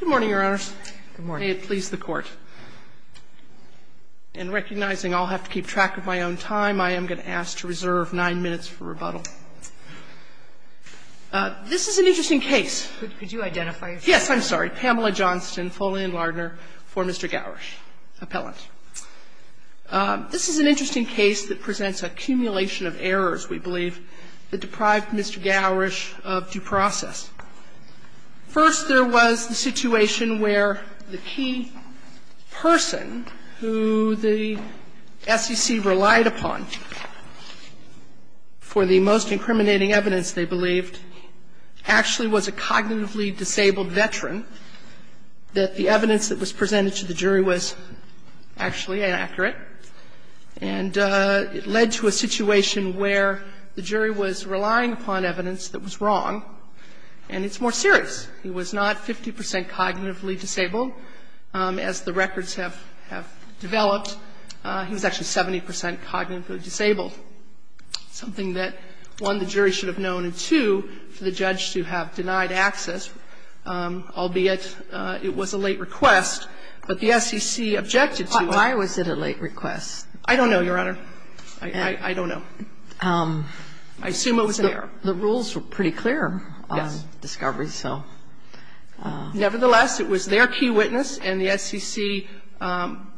Good morning, Your Honors. Good morning. May it please the Court, in recognizing I'll have to keep track of my own time, I am going to ask to reserve nine minutes for rebuttal. This is an interesting case. Could you identify yourself? Yes, I'm sorry. Pamela Johnston, Foley and Lardner for Mr. Gowrish, appellant. This is an interesting case that presents an accumulation of errors, we believe, that deprived Mr. Gowrish of due process. First, there was the situation where the key person who the SEC relied upon for the most incriminating evidence, they believed, actually was a cognitively disabled veteran, that the evidence that was presented to the jury was actually inaccurate, and it led to a situation where the jury was relying upon evidence that was wrong, and it's more serious. He was not 50 percent cognitively disabled. As the records have developed, he was actually 70 percent cognitively disabled, something that, one, the jury should have known, and, two, for the judge to have denied access, albeit it was a late request, but the SEC objected to it. Why was it a late request? I don't know, Your Honor. I don't know. I assume it was there. The rules were pretty clear on discovery, so. Nevertheless, it was their key witness, and the SEC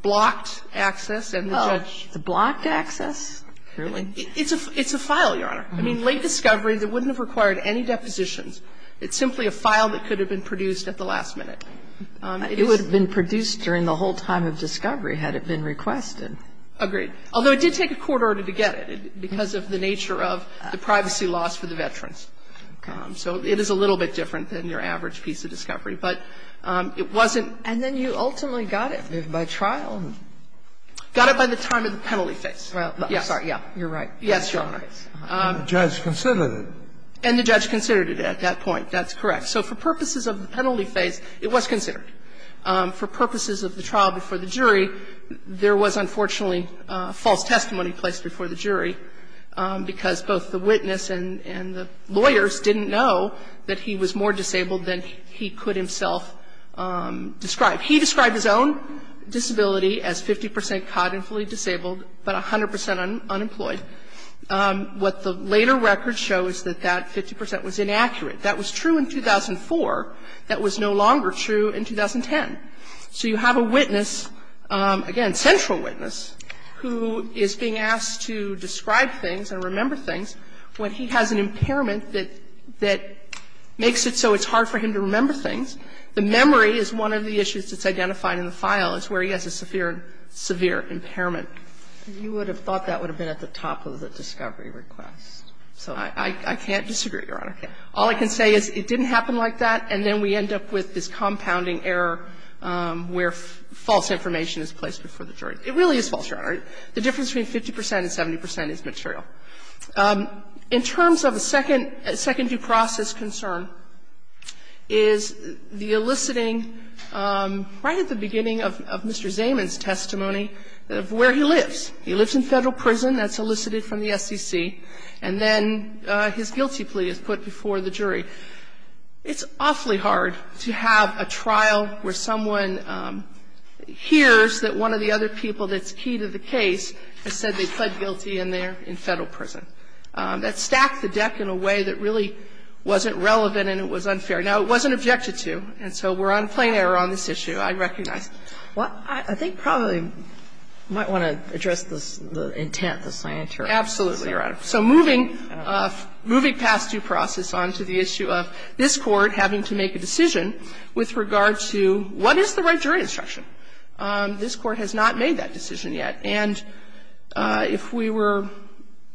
blocked access, and the judge It's a blocked access? It's a file, Your Honor. I mean, late discovery that wouldn't have required any depositions. It's simply a file that could have been produced at the last minute. It would have been produced during the whole time of discovery had it been requested. Agreed. Although it did take a court order to get it, because of the nature of the privacy loss for the veterans. So it is a little bit different than your average piece of discovery, but it wasn't And then you ultimately got it by trial. Got it by the time of the penalty phase. I'm sorry, yeah. You're right. Yes, Your Honor. And the judge considered it. And the judge considered it at that point. That's correct. So for purposes of the penalty phase, it was considered. For purposes of the trial before the jury, there was unfortunately false testimony placed before the jury, because both the witness and the lawyers didn't know that he was more disabled than he could himself describe. He described his own disability as 50 percent cognitively disabled, but 100 percent unemployed. What the later records show is that that 50 percent was inaccurate. That was true in 2004. That was no longer true in 2010. So you have a witness, again, central witness, who is being asked to describe things and remember things when he has an impairment that makes it so it's hard for him to remember things. The memory is one of the issues that's identified in the file. It's where he has a severe, severe impairment. You would have thought that would have been at the top of the discovery request. So I can't disagree, Your Honor. All I can say is it didn't happen like that, and then we end up with this compounding error where false information is placed before the jury. It really is false, Your Honor. The difference between 50 percent and 70 percent is material. In terms of a second due process concern is the eliciting right at the beginning of Mr. Zaman's testimony of where he lives. He lives in Federal prison. That's elicited from the SEC. And then his guilty plea is put before the jury. It's awfully hard to have a trial where someone hears that one of the other people that's key to the case has said they pled guilty and they're in Federal prison. That stacked the deck in a way that really wasn't relevant and it was unfair. Now, it wasn't objected to, and so we're on plain error on this issue, I recognize. Well, I think probably you might want to address the intent, the scientific intent of this case. Absolutely, Your Honor. So moving past due process on to the issue of this Court having to make a decision with regard to what is the right jury instruction, this Court has not made that decision yet. And if we were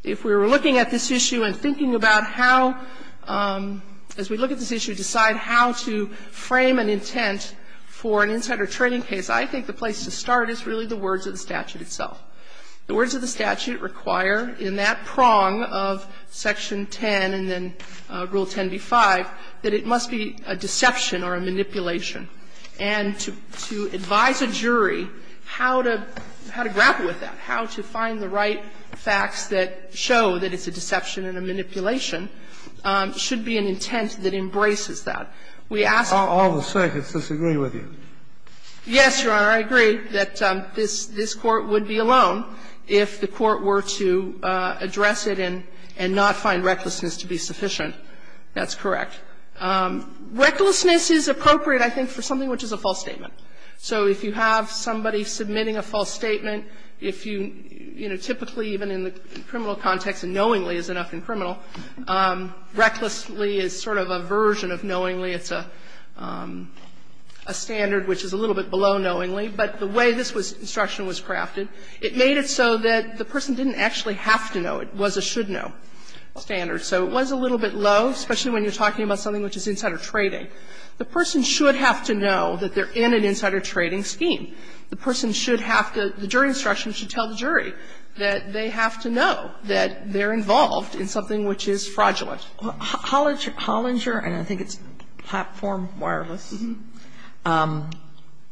looking at this issue and thinking about how, as we look at this issue, decide how to frame an intent for an insider trading case, I think the place to start is really the words of the statute itself. The words of the statute require in that prong of Section 10 and then Rule 10b-5 that it must be a deception or a manipulation. And to advise a jury how to grapple with that, how to find the right facts that show that it's a deception and a manipulation should be an intent that embraces that. So I think that's a good way to start, but I don't think it's a good way to start with this case alone if the Court were to address it and not find recklessness to be sufficient. That's correct. Recklessness is appropriate, I think, for something which is a false statement. So if you have somebody submitting a false statement, if you, you know, typically even in the criminal context, and knowingly is enough in criminal, recklessly is sort of a version of knowingly. It's a standard which is a little bit below knowingly. But the way this instruction was crafted, it made it so that the person didn't actually have to know. It was a should-know standard. So it was a little bit low, especially when you're talking about something which is insider trading. The person should have to know that they're in an insider trading scheme. The person should have to, the jury instruction should tell the jury that they have to know that they're involved in something which is fraudulent. Hollinger, and I think it's Platform Wireless,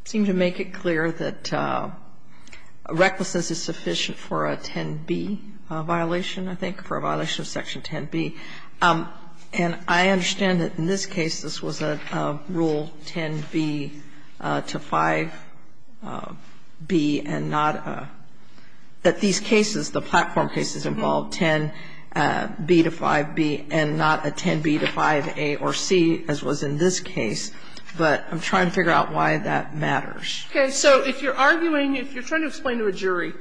seemed to make it clear that recklessness is sufficient for a 10b violation, I think, for a violation of Section 10b. And I understand that in this case this was a Rule 10b to 5b and not a – that these cases, the Platform cases involved 10b to 5b and not a 10b to 5a or c, as was in this case. But I'm trying to figure out why that matters. Okay. So if you're arguing, if you're trying to explain to a jury,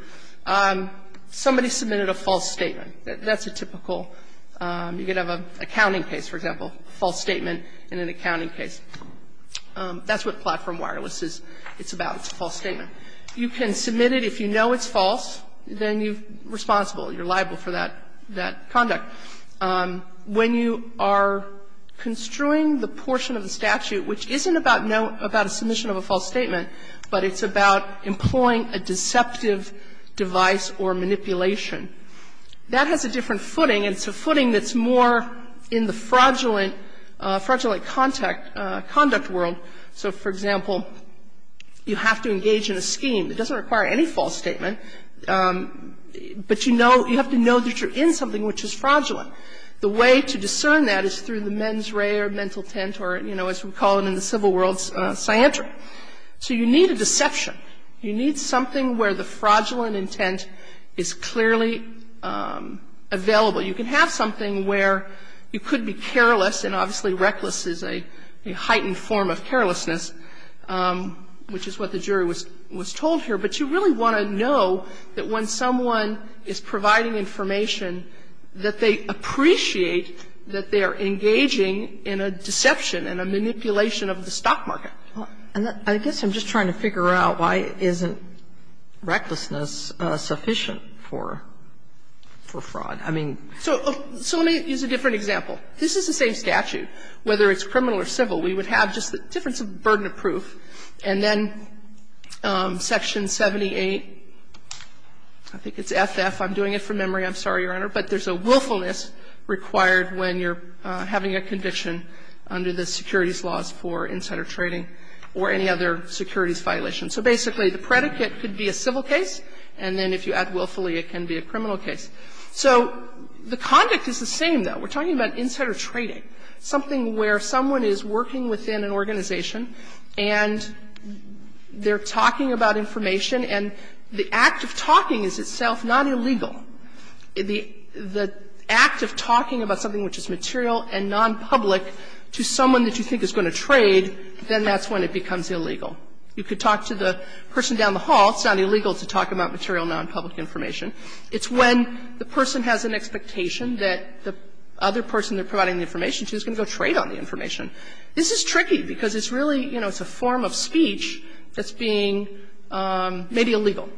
somebody submitted a false statement. That's a typical – you could have an accounting case, for example, a false statement in an accounting case. That's what Platform Wireless is. It's about, it's a false statement. You can submit it if you know it's false, then you're responsible, you're liable for that conduct. When you are construing the portion of the statute which isn't about a submission of a false statement, but it's about employing a deceptive device or manipulation, that has a different footing. It's a footing that's more in the fraudulent, fraudulent conduct world. So, for example, you have to engage in a scheme. It doesn't require any false statement, but you know, you have to know that you're in something which is fraudulent. The way to discern that is through the mens rea or mental tent or, you know, as we call it in the civil world, scientry. So you need a deception. You need something where the fraudulent intent is clearly available. You can have something where you could be careless, and obviously reckless is a heightened form of carelessness, which is what the jury was told here. But you really want to know that when someone is providing information, that they appreciate that they are engaging in a deception and a manipulation of the stock market. Sotomayor And I guess I'm just trying to figure out why isn't recklessness sufficient for fraud. I mean ---- Sotomayor And I guess I'm just trying to figure out why isn't recklessness I mean, if you look at the statute, whether it's criminal or civil, we would have just the difference of burden of proof, and then Section 78, I think it's FF, I'm doing it from memory, I'm sorry, Your Honor, but there's a willfulness required when you're having a conviction under the securities laws for insider trading or any other securities violation. So basically, the predicate could be a civil case, and then if you add willfully, it can be a criminal case. So the conduct is the same, though. We're talking about insider trading, something where someone is working within an organization, and they're talking about information, and the act of talking is itself not illegal. The act of talking about something which is material and nonpublic to someone that you think is going to trade, then that's when it becomes illegal. You could talk to the person down the hall. It's not illegal to talk about material, nonpublic information. It's when the person has an expectation that the other person they're providing the information to is going to go trade on the information. This is tricky, because it's really, you know, it's a form of speech that's being maybe illegal,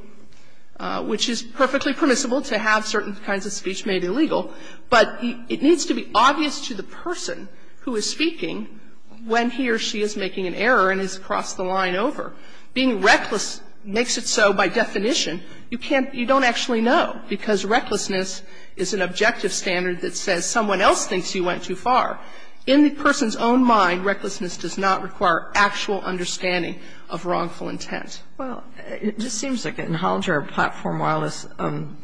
which is perfectly permissible to have certain kinds of speech made illegal. But it needs to be obvious to the person who is speaking when he or she is making an error and has crossed the line over. Being reckless makes it so, by definition, you can't you don't actually know, because recklessness is an objective standard that says someone else thinks you went too far. In the person's own mind, recklessness does not require actual understanding of wrongful intent. Sotomayor, it just seems like in Hollinger and Platform Wireless,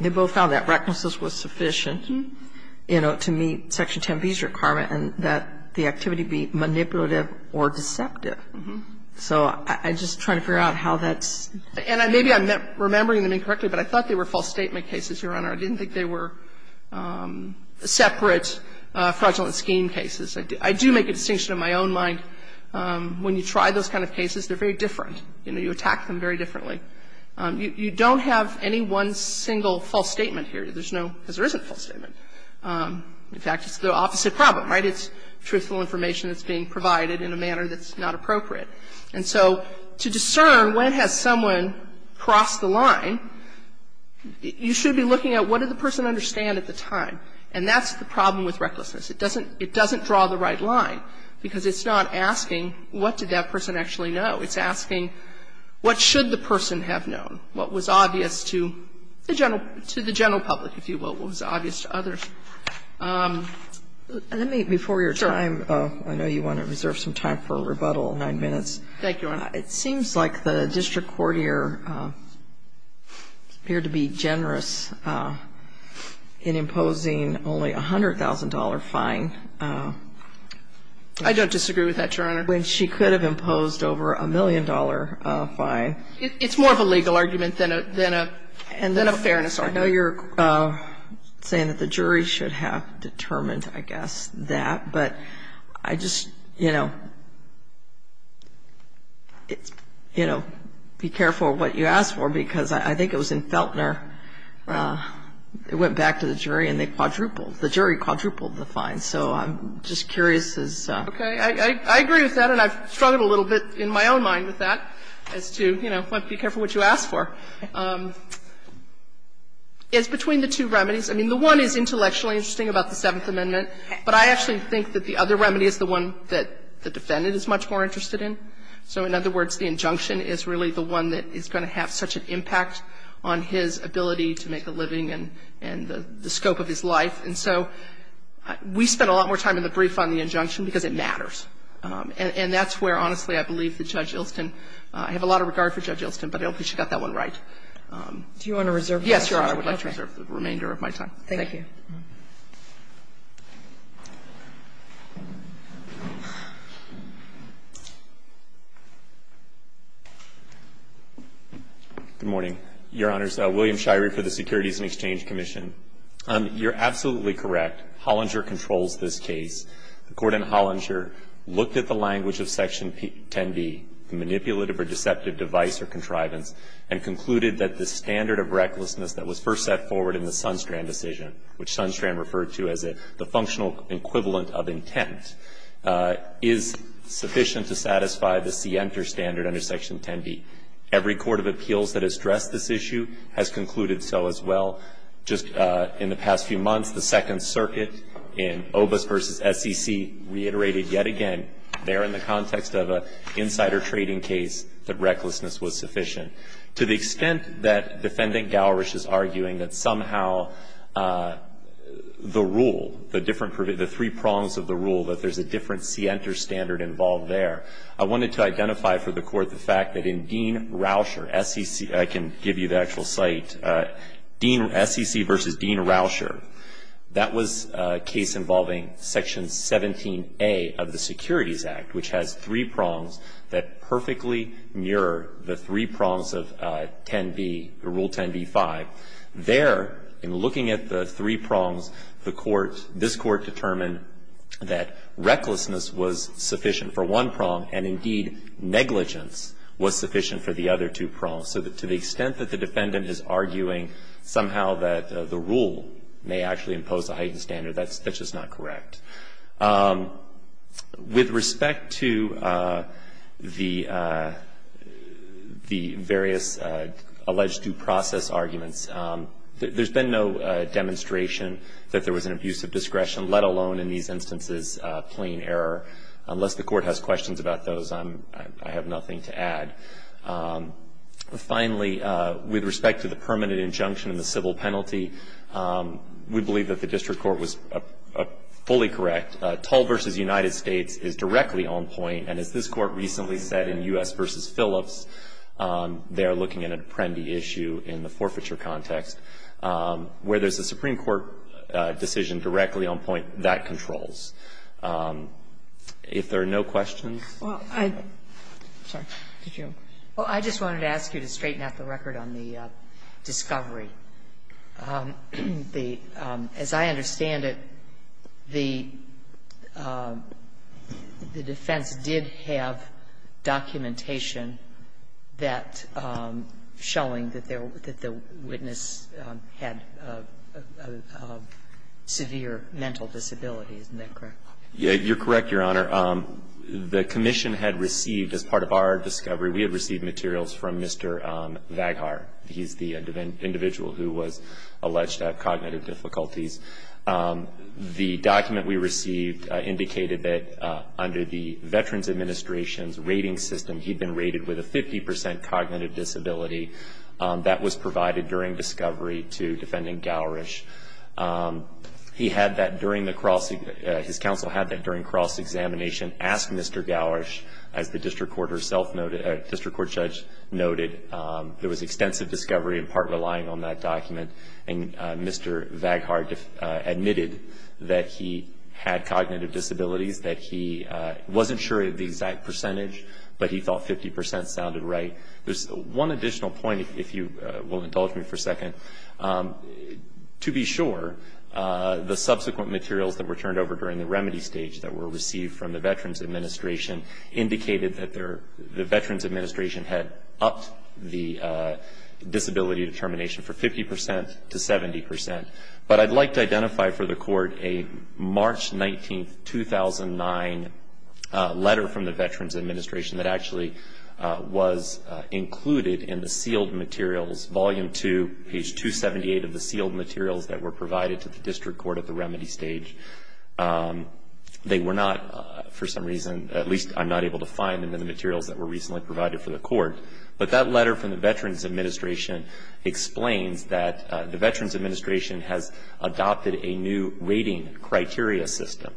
they both found that recklessness was sufficient. I mean, I think the details of the indictment about the fact that the person was going to be making an error, that was a recommendation to me, Section 10B's requirement, and that the activity be manipulative or deceptive. So I'm just trying to figure out how that's going to work. And maybe I'm remembering them incorrectly, but I thought they were false statement cases, Your Honor. I didn't think they were separate fraudulent scheme cases. I do make a distinction in my own mind. When you try those kind of cases, they're very different. You know, you attack them very differently. You don't have any one single false statement here. There's no – because there isn't a false statement. In fact, it's the opposite problem, right? It's truthful information that's being provided in a manner that's not appropriate. And so to discern when has someone crossed the line, you should be looking at what did the person understand at the time. And that's the problem with recklessness. It doesn't draw the right line, because it's not asking what did that person actually know. It's asking what should the person have known, what was obvious to the general public, if you will, what was obvious to others. Let me, before your time, I know you want to reserve some time for a rebuttal of 9 minutes. Thank you, Your Honor. It seems like the district court here appeared to be generous in imposing only a $100,000 fine. I don't disagree with that, Your Honor. When she could have imposed over a $1 million fine. It's more of a legal argument than a fairness argument. I know you're saying that the jury should have determined, I guess, that. But I just, you know, be careful what you ask for, because I think it was in Feltner. It went back to the jury, and they quadrupled. The jury quadrupled the fine. So I'm just curious as to how. Okay. I agree with that, and I've struggled a little bit in my own mind with that, as to, you know, be careful what you ask for. It's between the two remedies. I mean, the one is intellectually interesting about the Seventh Amendment, but I actually think that the other remedy is the one that the defendant is much more interested in. So in other words, the injunction is really the one that is going to have such an impact on his ability to make a living and the scope of his life. And so we spent a lot more time in the brief on the injunction, because it matters. And that's where, honestly, I believe that Judge Ilston – I have a lot of regard for Judge Ilston, but I hope she got that one right. Do you want to reserve the rest of your time? Yes, Your Honor, I would like to reserve the remainder of my time. Thank you. Thank you. Good morning. Your Honor, it's William Shirey for the Securities and Exchange Commission. You're absolutely correct. Hollinger controls this case. The Court in Hollinger looked at the language of Section 10b, the manipulative or deceptive device or contrivance, and concluded that the standard of recklessness that was first set forward in the Sunstrand decision, which Sunstrand referred to as the functional equivalent of intent, is sufficient to satisfy the SIEMTER standard under Section 10b. Every court of appeals that has stressed this issue has concluded so as well. Just in the past few months, the Second Circuit in Obas v. SEC reiterated yet again there in the context of an insider trading case that recklessness was sufficient. To the extent that Defendant Gowrish is arguing that somehow the rule, the three prongs of the rule, that there's a different SIEMTER standard involved there, I wanted to identify for the Court the fact that in Dean Rauscher, SEC – Dean – SEC v. Dean Rauscher, that was a case involving Section 17a of the Securities Act, which has three prongs that perfectly mirror the three prongs of 10b, Rule 10b-5. There, in looking at the three prongs, the Court – this Court determined that recklessness was sufficient for one prong, and indeed, So to the extent that the Defendant is arguing somehow that the rule may actually impose a heightened standard, that's just not correct. With respect to the various alleged due process arguments, there's been no demonstration that there was an abuse of discretion, let alone in these instances, plain error. Unless the Court has questions about those, I have nothing to add. Finally, with respect to the permanent injunction and the civil penalty, we believe that the District Court was fully correct. Tull v. United States is directly on point. And as this Court recently said in U.S. v. Phillips, they are looking at an Apprendi issue in the forfeiture context, where there's a Supreme Court decision directly on point that controls. If there are no questions. Well, I just wanted to ask you to straighten out the record on the discovery. As I understand it, the defense did have documentation that – showing that the witness had a severe mental disability. Isn't that correct? Yeah, you're correct, Your Honor. The Commission had received, as part of our discovery, we had received materials from Mr. Vaghar. He's the individual who was alleged to have cognitive difficulties. The document we received indicated that under the Veterans Administration's rating system, he'd been rated with a 50% cognitive disability. That was provided during discovery to Defendant Gowrish. He had that during the cross – his counsel had that during cross-examination, asked Mr. Gowrish, as the District Court herself noted – District Court Judge noted, there was extensive discovery in part relying on that document. And Mr. Vaghar admitted that he had cognitive disabilities, that he wasn't sure of the exact percentage, but he thought 50% sounded right. There's one additional point, if you will indulge me for a second. To be sure, the subsequent materials that were turned over during the remedy stage that were received from the Veterans Administration indicated that the Veterans Administration had upped the disability determination for 50% to 70%. But I'd like to identify for the Court a March 19, 2009, letter from the Veterans Administration that actually was included in the sealed materials, Volume 2, page 278 of the sealed materials that were provided to the District Court at the remedy stage. They were not, for some reason, at least I'm not able to find them in the materials that were recently provided for the Court. But that letter from the Veterans Administration explains that the Veterans Administration has adopted a new rating criteria system,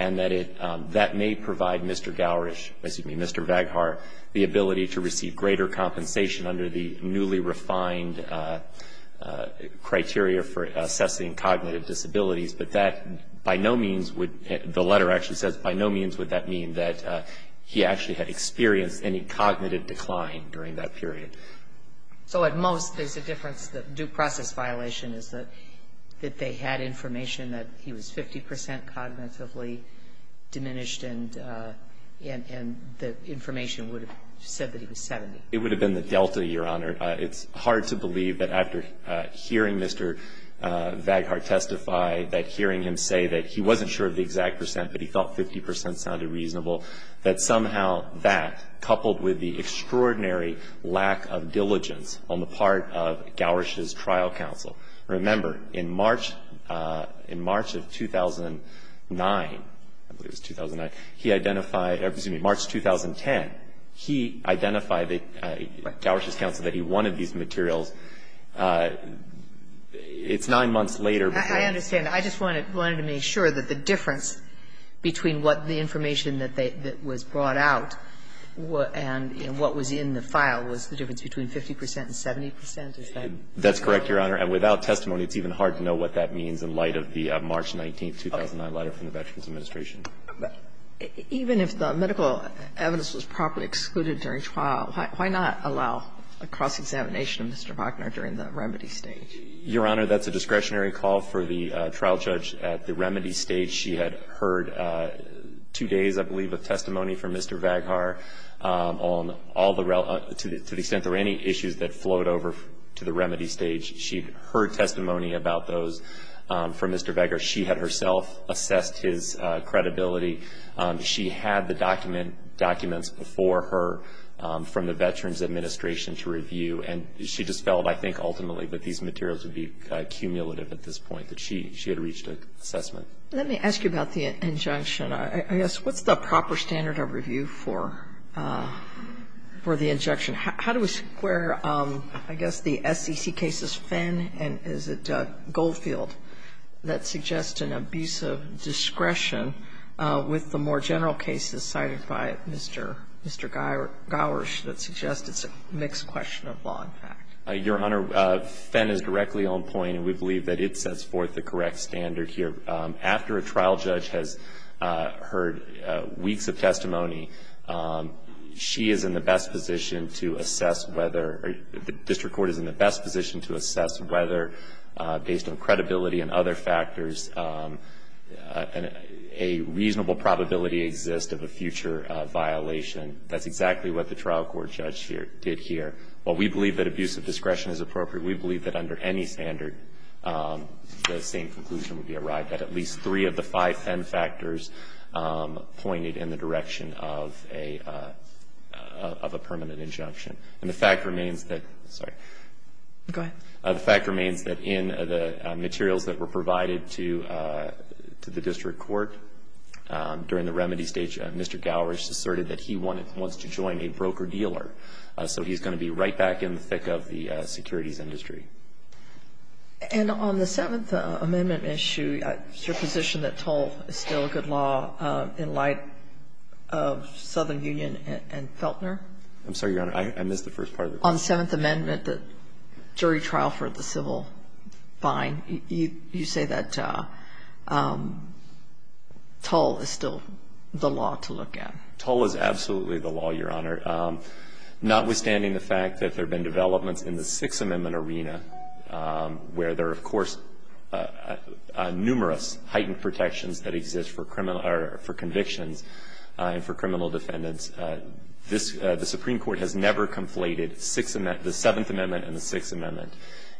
and that it, that may provide Mr. Gowrish, excuse me, Mr. Vaghar the ability to receive greater compensation under the newly refined criteria for assessing cognitive disabilities. But that by no means would, the letter actually says by no means would that mean that he actually had experienced any cognitive decline during that period. So at most there's a difference that due process violation is that they had information that he was 50% cognitively diminished, and the information would have said that he was 70. It would have been the delta, Your Honor. It's hard to believe that after hearing Mr. Vaghar testify, that hearing him say that he wasn't sure of the exact percent, but he felt 50% sounded reasonable, that somehow that coupled with the extraordinary lack of diligence on the part of Gowrish's trial counsel. Remember, in March, in March of 2009, I believe it was 2009, he identified, or excuse me, March 2010, he identified that Gowrish's counsel, that he wanted these materials, it's nine months later. I understand. I just wanted to make sure that the difference between what the information that they, that was brought out and what was in the file was the difference between 50% and 70% or something. That's correct, Your Honor. And without testimony, it's even hard to know what that means in light of the March 19, 2009 letter from the Veterans Administration. Even if the medical evidence was properly excluded during trial, why not allow a cross-examination of Mr. Vaghar during the remedy stage? Your Honor, that's a discretionary call for the trial judge at the remedy stage. She had heard two days, I believe, of testimony from Mr. Vaghar on all the rel to the extent there were any issues that flowed over to the remedy stage. She'd heard testimony about those from Mr. Vaghar. She had herself assessed his credibility. She had the documents before her from the Veterans Administration to review. And she just felt, I think, ultimately, that these materials would be cumulative at this point, that she had reached an assessment. Let me ask you about the injunction. I guess, what's the proper standard of review for the injunction? How do we square, I guess, the SEC cases, Fenn and is it Goldfield, that suggest an abuse of discretion with the more general cases cited by Mr. Gowers that suggest it's a mixed question of law and fact? Your Honor, Fenn is directly on point, and we believe that it sets forth the correct standard here. After a trial judge has heard weeks of testimony, she is in the best position to assess whether, or the district court is in the best position to assess whether, based on credibility and other factors, a reasonable probability exists of a future violation. That's exactly what the trial court judge did here. While we believe that abuse of discretion is appropriate, we believe that under any standard, the same conclusion would be arrived at, at least three of the five Fenn injunction, and the fact remains that in the materials that were provided to the district court during the remedy stage, Mr. Gowers asserted that he wants to join a broker-dealer, so he's going to be right back in the thick of the securities industry. And on the Seventh Amendment issue, is your position that toll is still a good law in light of Southern Union and Feltner? I'm sorry, Your Honor. I missed the first part of the question. On Seventh Amendment, the jury trial for the civil fine, you say that toll is still the law to look at. Toll is absolutely the law, Your Honor. Notwithstanding the fact that there have been developments in the Sixth Amendment arena where there are, of course, numerous heightened protections that exist for criminal or for convictions and for criminal defendants, this the Supreme Court has never conflated the Seventh Amendment and the Sixth Amendment.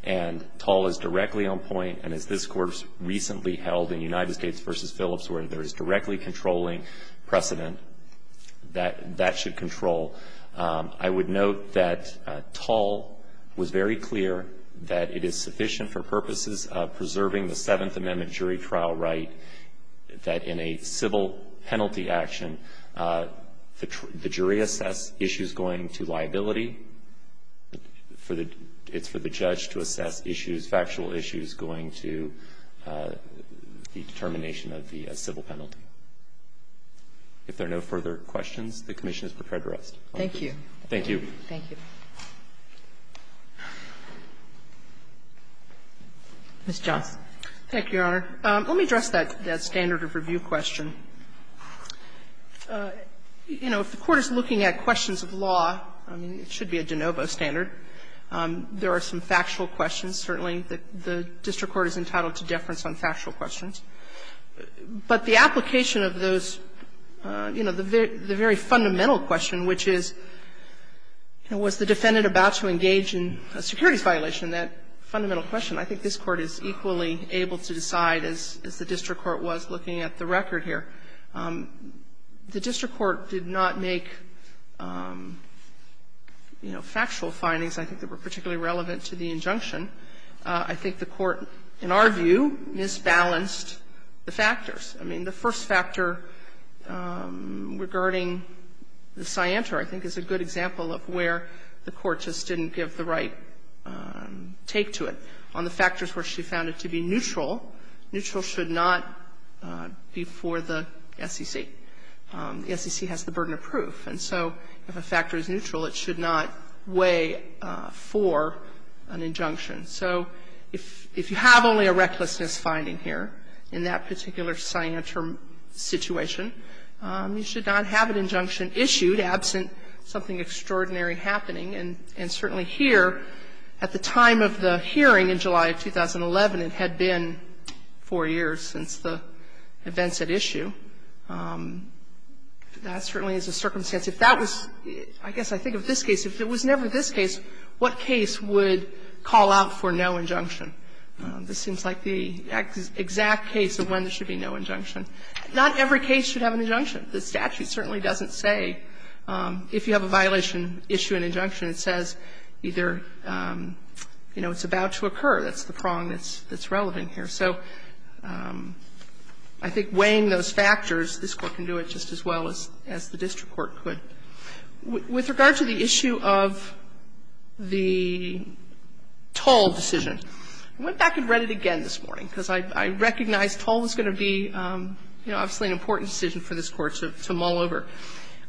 And toll is directly on point, and as this Court recently held in United States v. Phillips, where there is directly controlling precedent, that that should control. I would note that toll was very clear that it is sufficient for purposes of preserving the Seventh Amendment jury trial right that in a civil penalty action, the jury assess issues going to liability, for the judge to assess issues, factual issues going to the determination of the civil penalty. If there are no further questions, the Commission is prepared to rest. Thank you. Thank you. Thank you. Ms. Johnson. Thank you, Your Honor. Let me address that standard of review question. You know, if the Court is looking at questions of law, I mean, it should be a de novo standard. There are some factual questions. Certainly, the district court is entitled to deference on factual questions. But the application of those, you know, the very fundamental question, which is, you know, was the defendant about to engage in a securities violation, that fundamental question, I think this Court is equally able to decide as the district court was looking at the record here. The district court did not make, you know, factual findings, I think, that were particularly relevant to the injunction. I think the Court, in our view, misbalanced the factors. I mean, the first factor regarding the scienter, I think, is a good example of where the Court just didn't give the right take to it on the factors where she found it to be neutral. Neutral should not be for the SEC. The SEC has the burden of proof. And so if a factor is neutral, it should not weigh for an injunction. So if you have only a recklessness finding here in that particular scienter situation, you should not have an injunction issued absent something extraordinary happening. And certainly here, at the time of the hearing in July of 2011, it had been four years since the events at issue. That certainly is a circumstance. If that was, I guess I think of this case, if it was never this case, what case would call out for no injunction? This seems like the exact case of when there should be no injunction. Not every case should have an injunction. The statute certainly doesn't say if you have a violation, issue an injunction. It says either, you know, it's about to occur. That's the prong that's relevant here. So I think weighing those factors, this Court can do it just as well as the district court could. With regard to the issue of the Toll decision, I went back and read it again this morning, because I recognize Toll is going to be, you know, obviously an important decision for this Court to mull over.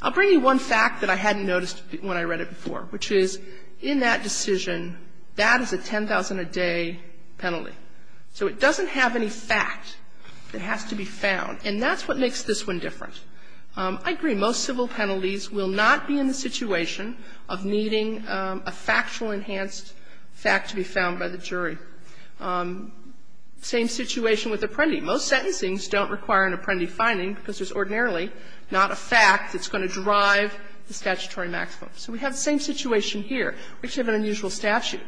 I'll bring you one fact that I hadn't noticed when I read it before, which is in that decision, that is a 10,000-a-day penalty. So it doesn't have any fact that has to be found. And that's what makes this one different. I agree, most civil penalties will not be in the situation of needing a factual enhanced fact to be found by the jury. Same situation with Apprendi. Most sentencings don't require an Apprendi finding, because there's ordinarily not a fact that's going to drive the statutory maximum. So we have the same situation here. We have an unusual statute,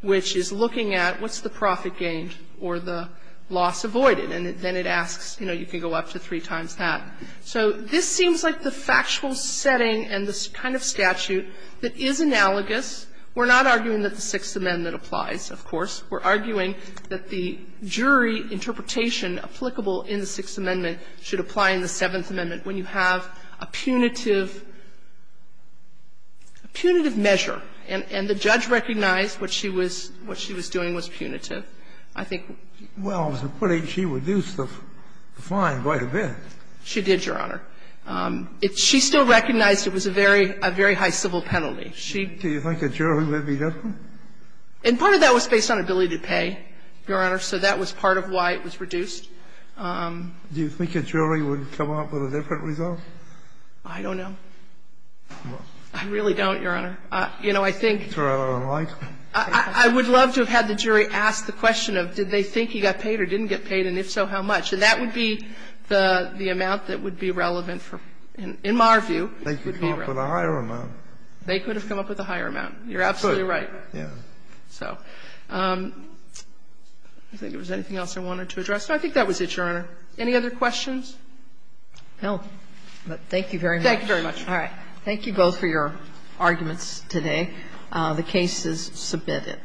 which is looking at what's the profit gained or the loss avoided. And then it asks, you know, you can go up to three times that. So this seems like the factual setting and the kind of statute that is analogous. We're not arguing that the Sixth Amendment applies, of course. We're arguing that the jury interpretation applicable in the Sixth Amendment should apply in the Seventh Amendment when you have a punitive measure, and the judge recognized what she was doing was punitive. I think we're going to find quite a bit. She did, Your Honor. She still recognized it was a very high civil penalty. Do you think a jury would be different? And part of that was based on ability to pay, Your Honor, so that was part of why it was reduced. Do you think a jury would come up with a different result? I don't know. I really don't, Your Honor. You know, I think the jury would have asked the question of did they think he got paid or didn't get paid, and if so, how much. And that would be the amount that would be relevant for, in my view, would be relevant. They could have come up with a higher amount. They could have come up with a higher amount. You're absolutely right. Yeah. So I don't think there was anything else I wanted to address. So I think that was it, Your Honor. Any other questions? No. Thank you very much. Thank you very much. All right. Thank you both for your arguments today. The case is submitted.